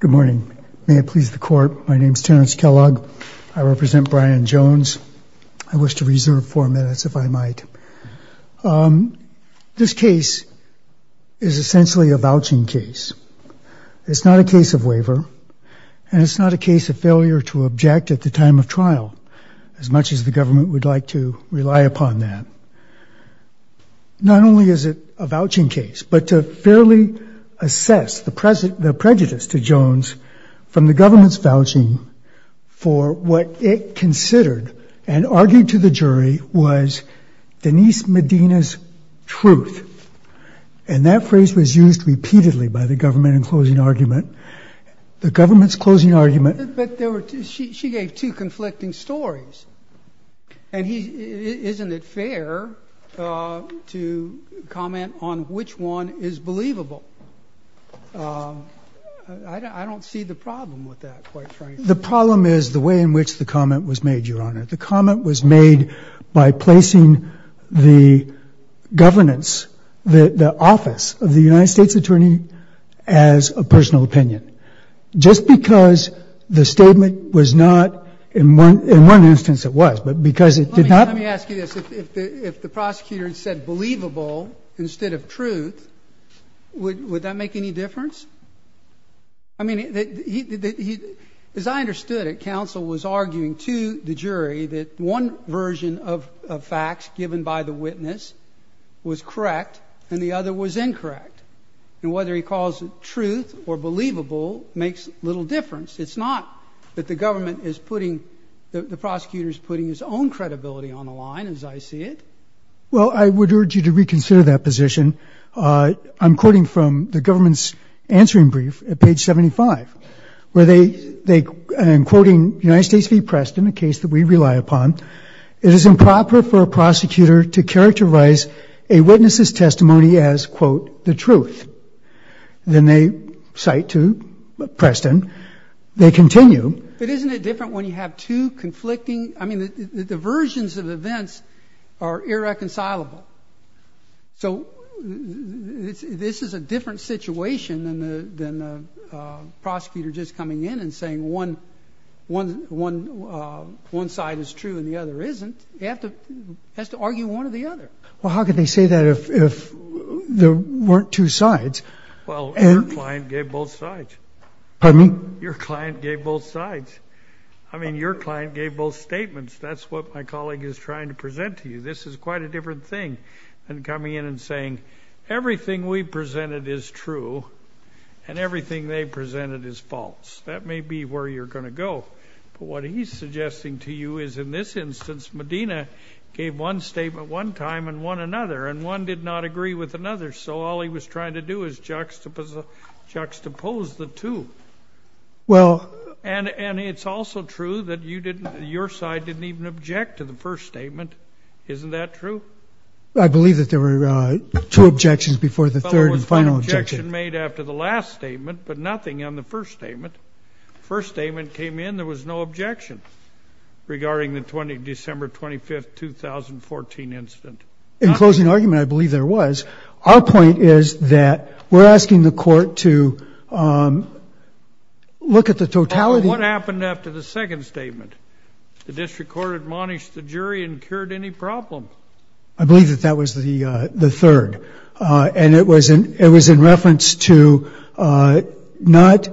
Good morning. May it please the court, my name is Terence Kellogg. I represent Brian Jones. I wish to reserve four minutes if I might. This case is essentially a vouching case. It's not a case of waiver and it's not a case of failure to object at the time of trial, as much as the government would like to rely upon that. Not only is it a vouching case, but to fairly assess the prejudice to Jones from the government's vouching for what it considered and argued to the jury was Denise Medina's truth. And that phrase was used repeatedly by the government in closing argument. The government's closing argument... But there was no effort to comment on which one is believable. I don't see the problem with that, quite frankly. The problem is the way in which the comment was made, Your Honor. The comment was made by placing the governance, the office of the United States Attorney as a personal opinion. Just because the statement was not, in one instance it was, but because it did not... Let me ask you this. If the prosecutor had said believable instead of truth, would that make any difference? I mean, as I understood it, counsel was arguing to the jury that one version of facts given by the witness was correct and the other was incorrect. And whether he calls it truth or believable makes little difference. It's not that the government is putting, the prosecutor's putting his own credibility on the line as I see it. Well, I would urge you to reconsider that position. I'm quoting from the government's answering brief at page 75, where they, I'm quoting United States v. Preston, a case that we rely upon. It is improper for a prosecutor to characterize a witness's testimony as, quote, the truth. Then they cite to Preston, they continue. But isn't it different when you have two conflicting, I mean, the versions of events are irreconcilable. So this is a different situation than the prosecutor just coming in and saying one side is true and the other isn't. He has to say one or the other. Well, how can they say that if there weren't two sides? Well, your client gave both sides. Pardon me? Your client gave both sides. I mean, your client gave both statements. That's what my colleague is trying to present to you. This is quite a different thing than coming in and saying everything we presented is true and everything they presented is false. That may be where you're going to go. But what he's suggesting to you is in this instance, Medina gave one statement one time and one another, and one did not agree with another. So all he was trying to do is juxtapose the two. Well, and it's also true that you didn't, your side didn't even object to the first statement. Isn't that true? I believe that there were two objections before the third and final objection made after the last statement, but nothing on the first statement. First statement came in, there was no objection regarding the December 25th, 2014 incident. In closing argument, I believe there was. Our point is that we're asking the court to look at the totality. What happened after the second statement? The district court admonished the jury and cured any problem. I believe that that was the third. And it was in reference to not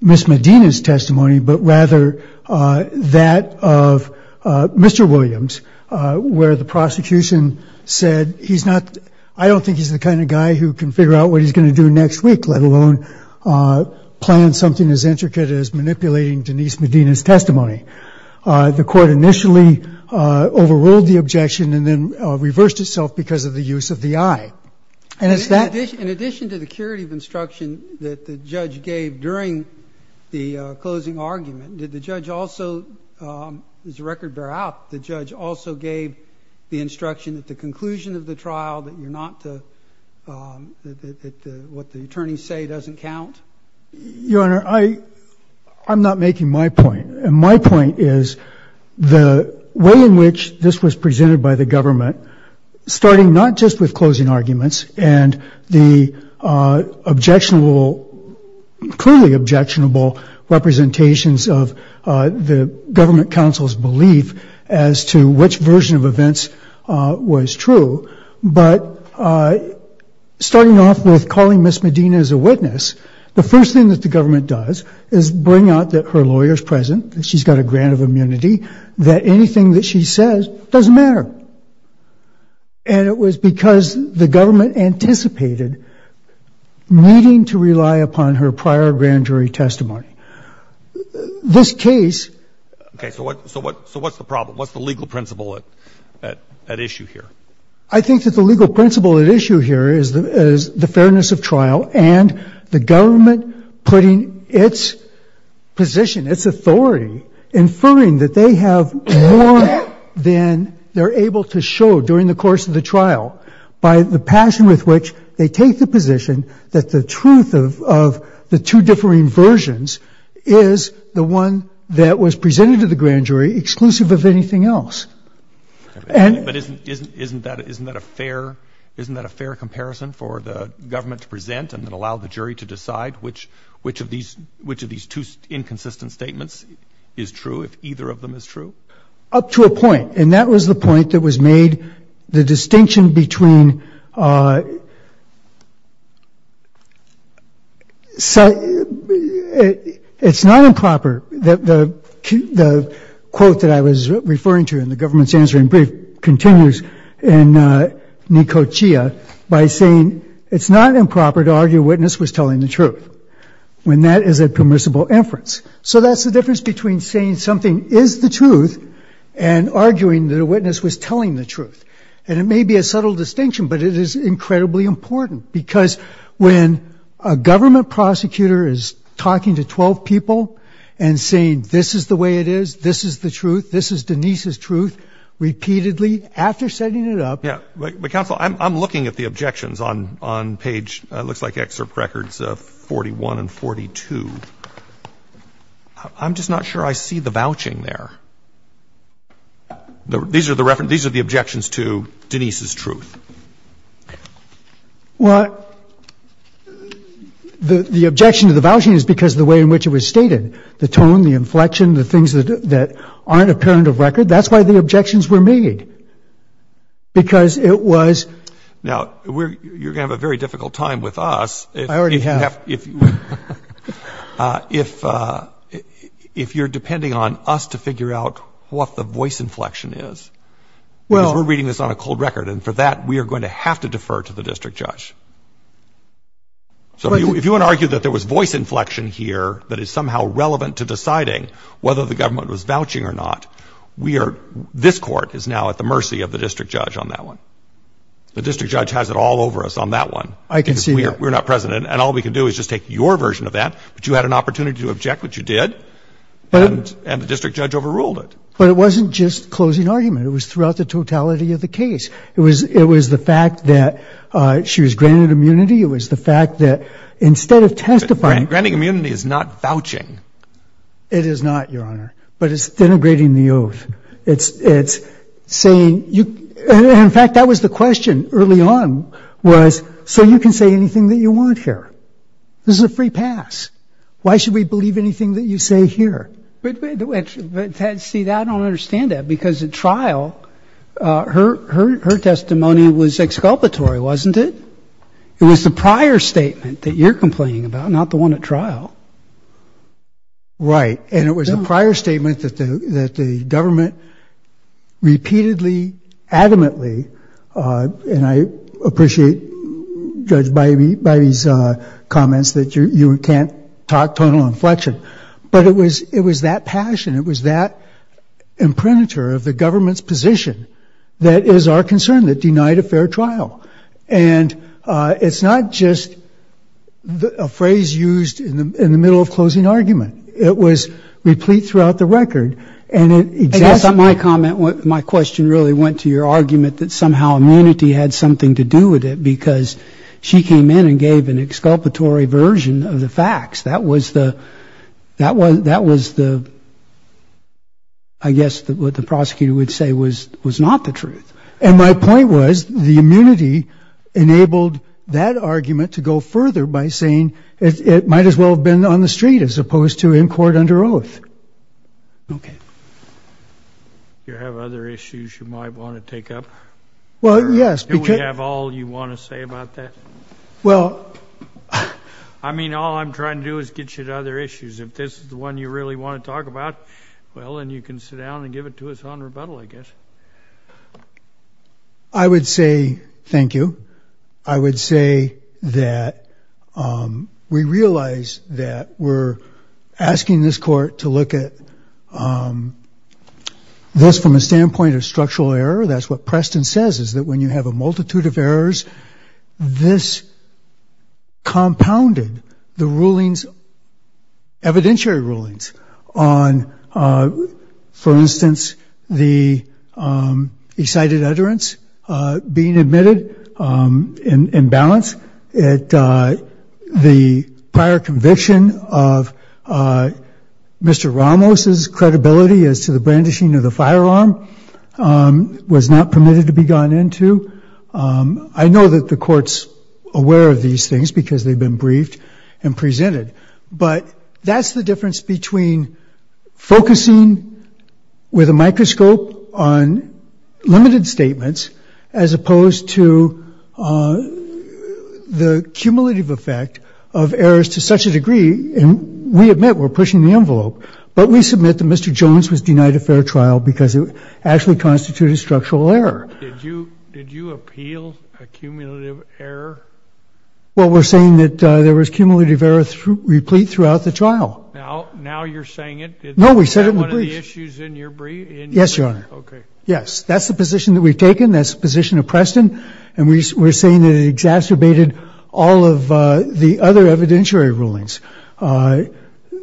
Ms. Medina's testimony, but rather that of Mr. Williams, where the prosecution said he's not, I don't think he's the kind of guy who can figure out what he's going to do next week, let alone plan something as intricate as manipulating Denise Medina's testimony. The court initially overruled the objection and then reversed itself because of the use of the I. And it's that. In addition to the curative instruction that the judge gave during the closing argument, did the judge also, as the record bear out, the judge also gave the instruction at the conclusion of the trial that you're not to, that what the attorneys say doesn't count? Your Honor, I, I'm not making my point. And my point is the way in which this was presented by the government, starting not just with closing objectionable, clearly objectionable representations of the government counsel's belief as to which version of events was true, but starting off with calling Ms. Medina as a witness, the first thing that the government does is bring out that her lawyer's present, that she's got a grant of immunity, that anything that she says doesn't matter. And it was because the government anticipated needing to rely upon her prior grand jury testimony. This case. Okay. So what, so what, so what's the problem? What's the legal principle at, at, at issue here? I think that the legal principle at issue here is the, is the fairness of trial and the government putting its position, its authority, inferring that they have more than they're able to show during the course of the case, with which they take the position that the truth of, of the two differing versions is the one that was presented to the grand jury exclusive of anything else. And. But isn't, isn't, isn't that, isn't that a fair, isn't that a fair comparison for the government to present and then allow the jury to decide which, which of these, which of these two inconsistent statements is true if either of them is true? Up to a point. And that was the point that was made, the It's not improper that the, the quote that I was referring to in the government's answering brief continues in Neko Chia by saying, it's not improper to argue witness was telling the truth when that is a permissible inference. So that's the difference between saying something is the truth and arguing that a witness was telling the truth. And it may be a subtle distinction, but it is incredibly important. Because when a government prosecutor is talking to 12 people and saying, this is the way it is, this is the truth, this is Denise's truth, repeatedly, after setting it up. Yeah. But, but counsel, I'm, I'm looking at the objections on, on page, it looks like excerpt records 41 and 42. I'm just not sure I see the vouching there. These are the reference, these are the objections to Denise's truth. Well, the, the objection to the vouching is because of the way in which it was stated. The tone, the inflection, the things that, that aren't apparent of record, that's why the objections were made. Because it was. Now, we're, you're going to have a very difficult time with us. I already have. If, if, if, if, if you're depending on us to figure out what the voice inflection is. Well, we're reading this on a cold record, and for that, we are going to have to defer to the district judge. So if you, if you want to argue that there was voice inflection here that is somehow relevant to deciding whether the government was vouching or not, we are, this court is now at the mercy of the district judge on that one. The district judge has it all over us on that one. I can see that. We're not president, and all we can do is just take your version of that, but you had an opportunity to object, which you did, and, and the district judge overruled it. But it wasn't just closing argument. It was throughout the totality of the case. It was, it was the fact that she was granted immunity. It was the fact that instead of testifying. Granting immunity is not vouching. It is not, Your Honor. But it's denigrating the oath. It's, it's saying you, and in fact, that was the question early on, was so you can say anything that you want here. This is a free pass. Why should we believe anything that you say here? But, but see, I don't understand that because at trial, her, her, her testimony was exculpatory, wasn't it? It was the prior statement that you're complaining about, not the one at trial. Right. And it was a prior statement that the, that the government repeatedly, adamantly, and I appreciate Judge Bivey, Bivey's comments that you can't talk tonal inflection, but it was, it was that passion. It was that imprimatur of the government's position that is our concern, that denied a fair trial, and it's not just a phrase used in the, in the middle of closing argument, it was replete throughout the record, and it exactly. My comment, my question really went to your argument that somehow immunity had something to do with it because she came in and gave an exculpatory version of the That was, that was the, I guess what the prosecutor would say was, was not the truth, and my point was the immunity enabled that argument to go further by saying it might as well have been on the street as opposed to in court under oath. Okay. You have other issues you might want to take up? Well, yes. Do we have all you want to say about that? Well. I mean, all I'm trying to do is get you to other issues. If this is the one you really want to talk about, well, then you can sit down and give it to us on rebuttal, I guess. I would say, thank you. I would say that, we realize that we're asking this court to look at, this from a standpoint of structural error, that's what Preston says, is that when you have a multitude of errors, this compounded the rulings, evidentiary rulings on, for instance, the excited utterance being admitted in balance at the prior conviction of Mr. Ramos's credibility as to the brandishing of the firearm was not permitted to be gone into. I know that the court's aware of these things because they've been briefed and presented, but that's the difference between focusing with a microscope on limited statements, as opposed to the cumulative effect of errors to such a degree, and we admit we're pushing the envelope, but we submit that Mr. Ramos only constituted structural error. Did you appeal a cumulative error? Well, we're saying that there was cumulative error replete throughout the trial. Now you're saying it? No, we said it in the brief. Is that one of the issues in your brief? Yes, Your Honor. Okay. Yes. That's the position that we've taken. That's the position of Preston, and we're saying that it exacerbated all of the other evidentiary rulings.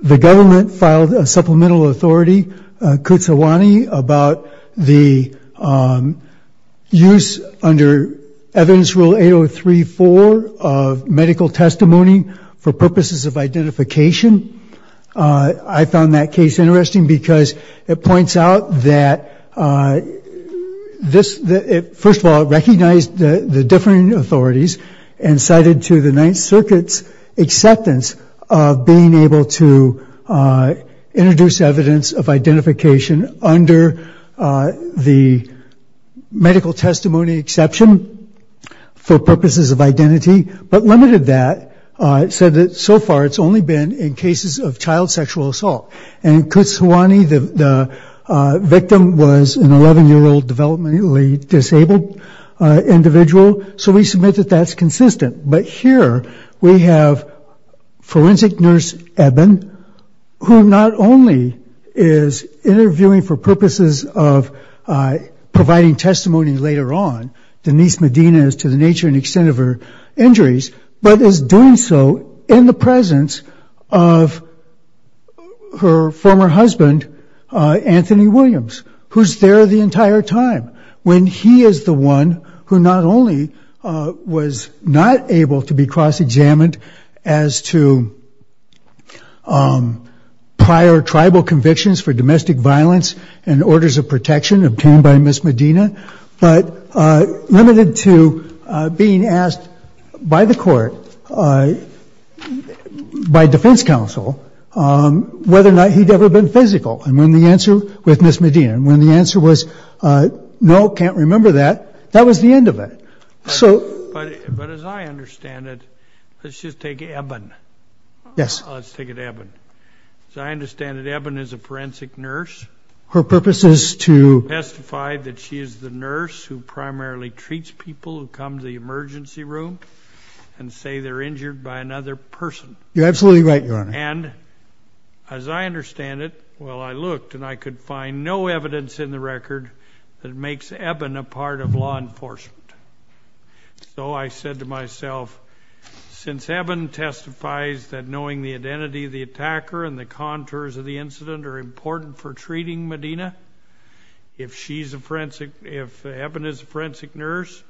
The government filed a supplemental authority, Kutsuwane, about the use under evidence rule 8034 of medical testimony for purposes of identification. I found that case interesting because it points out that, first of all, it limited the scope of being able to introduce evidence of identification under the medical testimony exception for purposes of identity, but limited that, said that so far it's only been in cases of child sexual assault, and Kutsuwane, the victim, was an 11-year-old developmentally disabled individual, so we submit that that's consistent. But here we have forensic nurse Eben, who not only is interviewing for purposes of providing testimony later on, Denise Medina is to the nature and extent of her injuries, but is doing so in the presence of her former husband, Anthony Williams, who's there the entire time, when he is the one who not only was not able to be cross-examined as to prior tribal convictions for domestic violence and orders of protection obtained by Ms. Medina, but limited to being asked by the court, by defense counsel, whether or not he'd ever been physical with Ms. Medina, and when the answer was, no, can't remember that, that was the end of it, so... But as I understand it, let's just take Eben. Yes. Let's take it Eben. As I understand it, Eben is a forensic nurse. Her purpose is to... Testify that she is the nurse who primarily treats people who come to the emergency room and say they're injured by another person. You're absolutely right, Your Honor. And as I understand it, well, I looked and I could find no evidence in the record that makes Eben a part of law enforcement. So I said to myself, since Eben testifies that knowing the identity of the attacker and the contours of the incident are important for treating Medina, if she's a forensic, if Eben is a forensic nurse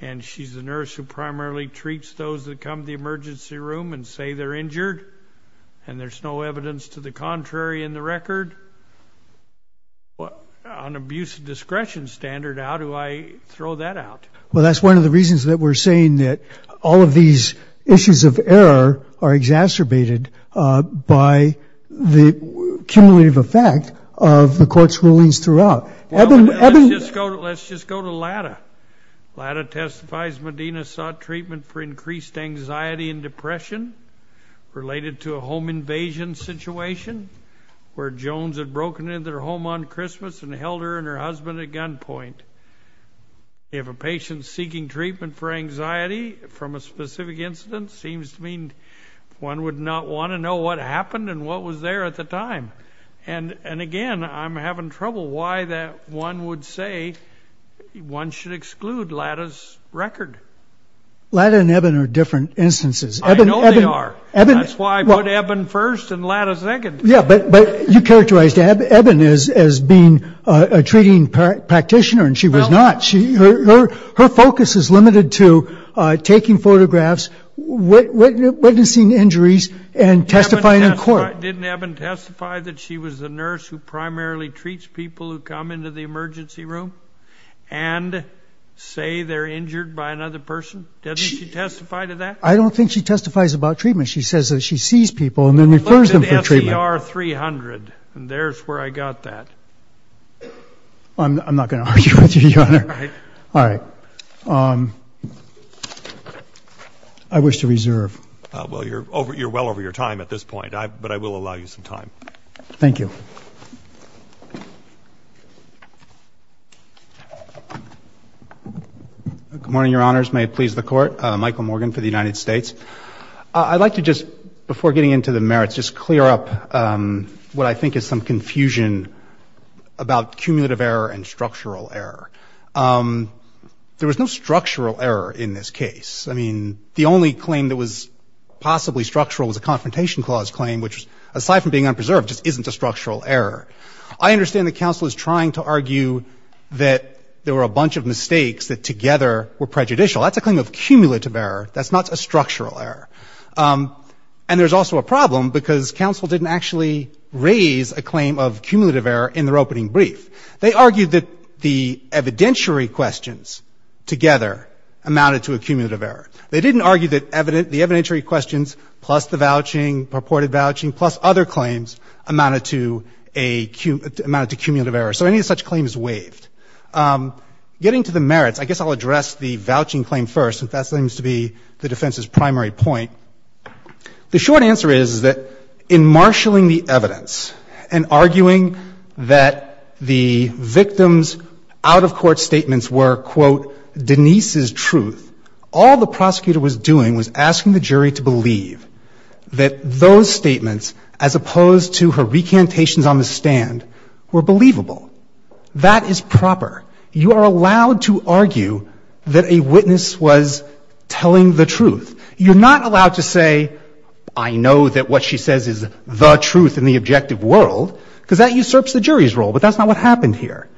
and she's the nurse who primarily treats those that come to the emergency room and say they're injured and there's no evidence to the contrary in the record, on abuse of discretion standard, how do I throw that out? Well, that's one of the reasons that we're saying that all of these issues of error are exacerbated by the cumulative effect of the court's rulings throughout. Let's just go to Lata. Lata testifies Medina sought treatment for increased anxiety and depression related to a home invasion situation where Jones had broken into their home on Christmas and held her and her husband at gunpoint. If a patient seeking treatment for anxiety from a specific incident seems to mean one would not want to know what happened and what was there at the time. And, and again, I'm having trouble why that one would say one should exclude Lata's record. Lata and Eben are different instances. I know they are. That's why I put Eben first and Lata second. Yeah, but you characterized Eben as being a treating practitioner and she was not, her focus is limited to taking photographs, witnessing injuries and testifying in court. Didn't Eben testify that she was the nurse who primarily treats people who come into the emergency room and say they're injured by another person? Doesn't she testify to that? I don't think she testifies about treatment. She says that she sees people and then refers them for treatment. Look at SER 300 and there's where I got that. I'm not going to argue with you, Your Honor. All right. All right. Um, I wish to reserve. Well, you're over, you're well over your time at this point. I, but I will allow you some time. Thank you. Good morning, Your Honors. May it please the court. Michael Morgan for the United States. I'd like to just, before getting into the merits, just clear up, um, what I think is some confusion about cumulative error and structural error. Um, there was no structural error in this case. I mean, the only claim that was possibly structural was a confrontation clause claim, which aside from being unpreserved, just isn't a structural error. I understand the council is trying to argue that there were a bunch of mistakes that together were prejudicial. That's a claim of cumulative error. That's not a structural error. Um, and there's also a problem because council didn't actually raise a claim of cumulative error in their opening brief. They argued that the evidentiary questions together amounted to a cumulative error. They didn't argue that evident, the evidentiary questions, plus the vouching, purported vouching, plus other claims amounted to a cumulative error. So any of such claims waived. Um, getting to the merits, I guess I'll address the vouching claim first, because that seems to be the defense's primary point. The short answer is that in marshaling the evidence and arguing that the victims out of court statements were quote Denise's truth, all the prosecutor was doing was asking the jury to believe that those statements, as opposed to her recantations on the stand were believable. That is proper. You are allowed to argue that a witness was telling the truth. You're not allowed to say, I know that what she says is the truth in the objective world, because that usurps the jury's role, but that's not what happened here.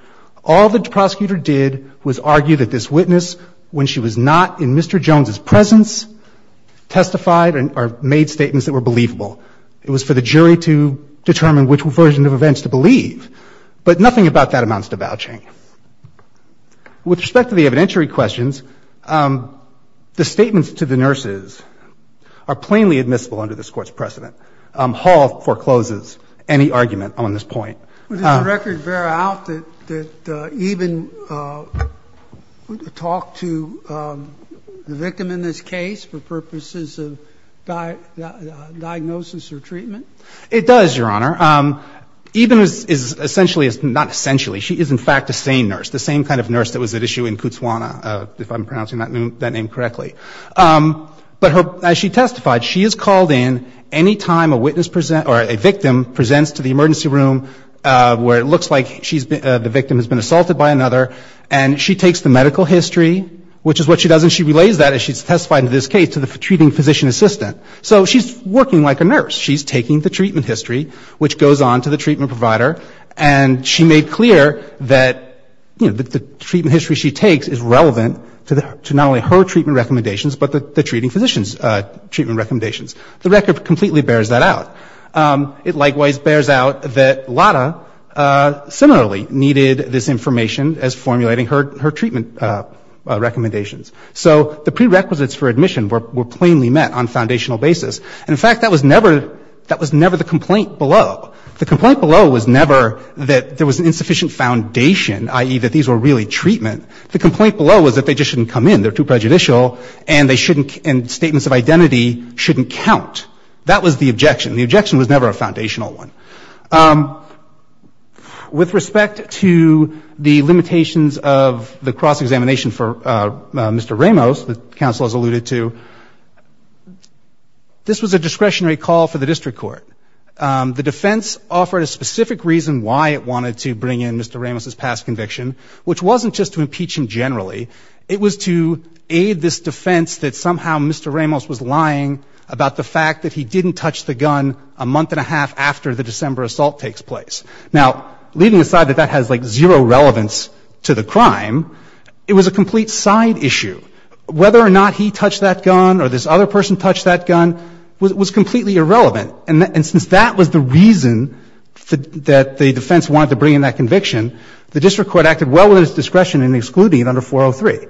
All the prosecutor did was argue that this witness, when she was not in Mr. Jones's presence, testified or made statements that were believable. It was for the jury to determine which version of events to believe, but nothing about that amounts to vouching. With respect to the evidentiary questions, um, the statements to the nurses are plainly admissible under this Court's precedent. Um, Hall forecloses any argument on this point. But does the record bear out that, that, uh, Eben, uh, talked to, um, the victim in this case for purposes of diagnosis or treatment? It does, Your Honor. Um, Eben is essentially, not essentially, she is in fact a sane nurse. The same kind of nurse that was at issue in Kutzwana, uh, if I'm pronouncing that name, that name correctly. Um, but her, as she testified, she is called in any time a witness present or a victim presents to the emergency room, uh, where it looks like she's been, uh, the victim has been assaulted by another. And she takes the medical history, which is what she does. And she relays that as she's testified in this case to the treating physician assistant. So she's working like a nurse. She's taking the treatment history, which goes on to the treatment provider. And she made clear that, you know, that the treatment history she takes is relevant to the, to not only her treatment recommendations, but the, the treating physician's, uh, treatment recommendations. The record completely bears that out. Um, it likewise bears out that Lada, uh, similarly needed this information as formulating her, her treatment, uh, uh, recommendations. So the prerequisites for admission were, were plainly met on foundational basis. And in fact, that was never, that was never the complaint below. The complaint below was never that there was an insufficient foundation, i.e. that these were really treatment. The complaint below was that they just shouldn't come in. They're too prejudicial and they shouldn't, and statements of identity shouldn't count. That was the objection. The objection was never a foundational one. Um, with respect to the limitations of the cross-examination for, uh, uh, Mr. Ramos, the counsel has alluded to, this was a discretionary call for the district court. Um, the defense offered a specific reason why it wanted to bring in Mr. Ramos's past conviction, which wasn't just to impeach him generally. It was to aid this defense that somehow Mr. Ramos was lying about the fact that he didn't touch the gun a month and a half after the December assault takes place. Now, leaving aside that that has like zero relevance to the crime, it was a complete side issue. Whether or not he touched that gun or this other person touched that gun was completely irrelevant. And since that was the reason that the defense wanted to bring in that conviction, the district court acted well within its discretion in excluding it under 403.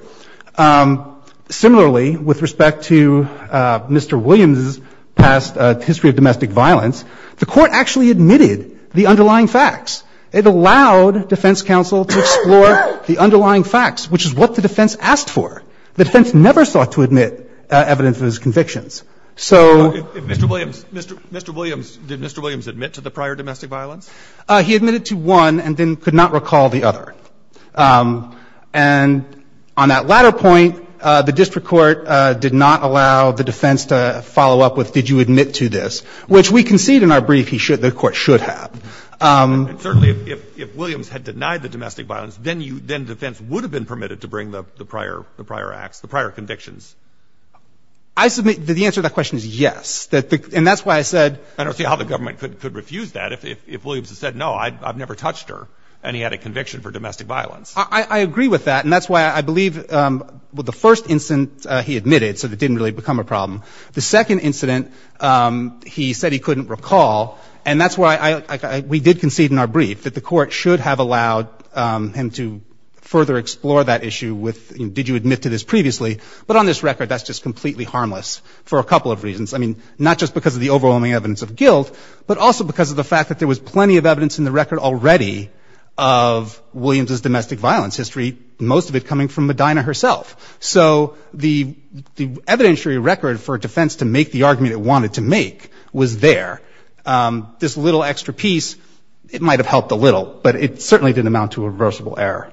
Um, similarly, with respect to, uh, Mr. Williams's past, uh, history of domestic violence, the court actually admitted the underlying facts. It allowed defense counsel to explore the underlying facts, which is what the defense asked for. The defense never sought to admit evidence of his convictions. So. If Mr. Williams, Mr. Mr. Williams, did Mr. Williams admit to the prior domestic violence? Uh, he admitted to one and then could not recall the other. Um, and on that latter point, uh, the district court, uh, did not allow the defense to follow up with, did you admit to this, which we concede in our brief he should, the court should have. Um. Certainly if, if, if Williams had denied the domestic violence, then you, then defense would have been permitted to bring the, the prior, the prior acts, the prior convictions. I submit that the answer to that question is yes. That, and that's why I said, I don't see how the government could, could refuse that if, if, if Williams has said, no, I've never touched her. And he had a conviction for domestic violence. I agree with that. And that's why I believe, um, well, the first instance, uh, he admitted, so that didn't really become a problem. The second incident, um, he said he couldn't recall. And that's why I, I, I, we did concede in our brief that the court should have allowed, um, him to further explore that issue with, did you admit to this previously, but on this record, that's just completely harmless for a couple of reasons. I mean, not just because of the overwhelming evidence of guilt, but also because of the fact that there was plenty of evidence in the record already of Williams's domestic violence history, most of it coming from Medina herself. So the, the evidentiary record for defense to make the argument it wanted to make was there, um, this little extra piece, it might've helped a little, but it certainly didn't amount to a reversible error.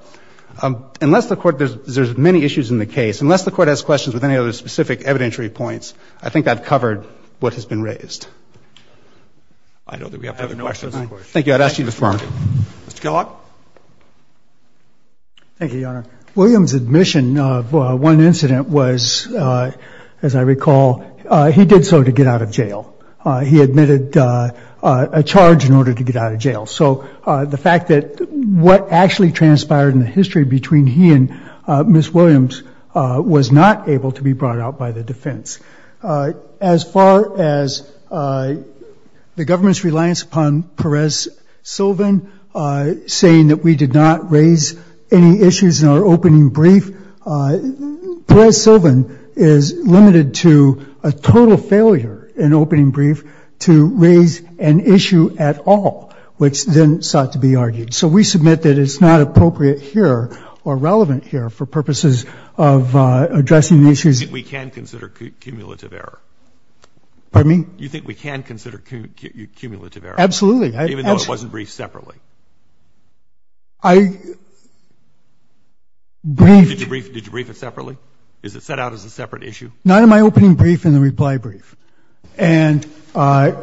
Um, unless the court, there's, there's many issues in the case, unless the court has questions with any other specific evidentiary points, I think I've covered what has been raised. I know that we have to have a question. Thank you. I'd ask you to confirm Mr. Kellogg. Thank you, Your Honor. William's admission of one incident was, uh, as I recall, uh, he did so to get out of jail, uh, he admitted, uh, uh, a charge in order to get out of jail. So, uh, the fact that what actually transpired in the history between he and, uh, Ms. Williams, uh, was not able to be brought out by the defense. Uh, as far as, uh, the government's reliance upon Perez-Sylvan, uh, saying that we did not raise any issues in our opening brief, uh, Perez-Sylvan is limited to a total failure in opening brief to raise an issue at all, which then sought to be argued. So we submit that it's not appropriate here or relevant here for purposes of, uh, addressing the issues. We can consider cumulative error. Pardon me? You think we can consider cumulative error? Absolutely. Even though it wasn't briefed separately. I, did you brief, did you brief it separately? Is it set out as a separate issue? Not in my opening brief and the reply brief. And, uh,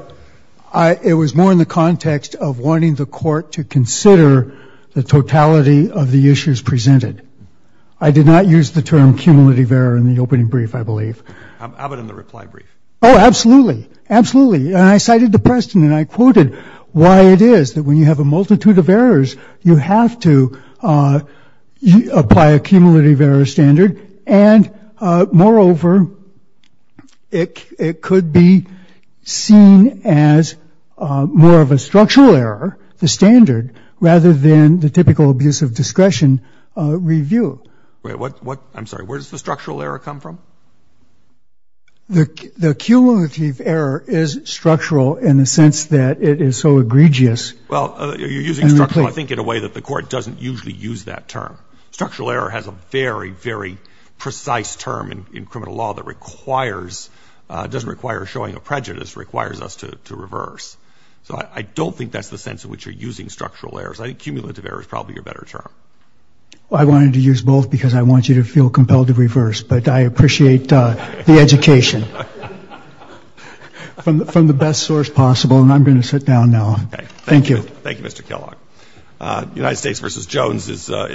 I, it was more in the context of wanting the court to consider the totality of the issues presented. I did not use the term cumulative error in the opening brief, I believe. How about in the reply brief? Oh, absolutely. Absolutely. And I cited the precedent. I quoted why it is that when you have a multitude of errors, you have to, uh, apply a cumulative error standard. And, uh, moreover, it, it could be seen as, uh, more of a structural error, the standard, rather than the typical abuse of discretion, uh, review. Wait, what, what, I'm sorry, where does the structural error come from? The, the cumulative error is structural in the sense that it is so egregious. Well, uh, you're using structural, I think in a way that the court doesn't usually use that term. Structural error has a very, very precise term in, in criminal law that requires, uh, doesn't require showing a prejudice, requires us to, to reverse. So I don't think that's the sense in which you're using structural errors. I think cumulative error is probably a better term. Well, I wanted to use both because I want you to feel compelled to reverse, but I appreciate the education from the, from the best source possible. And I'm going to sit down now. Thank you. Thank you, Mr. Kellogg. Uh, United States versus Jones is, uh,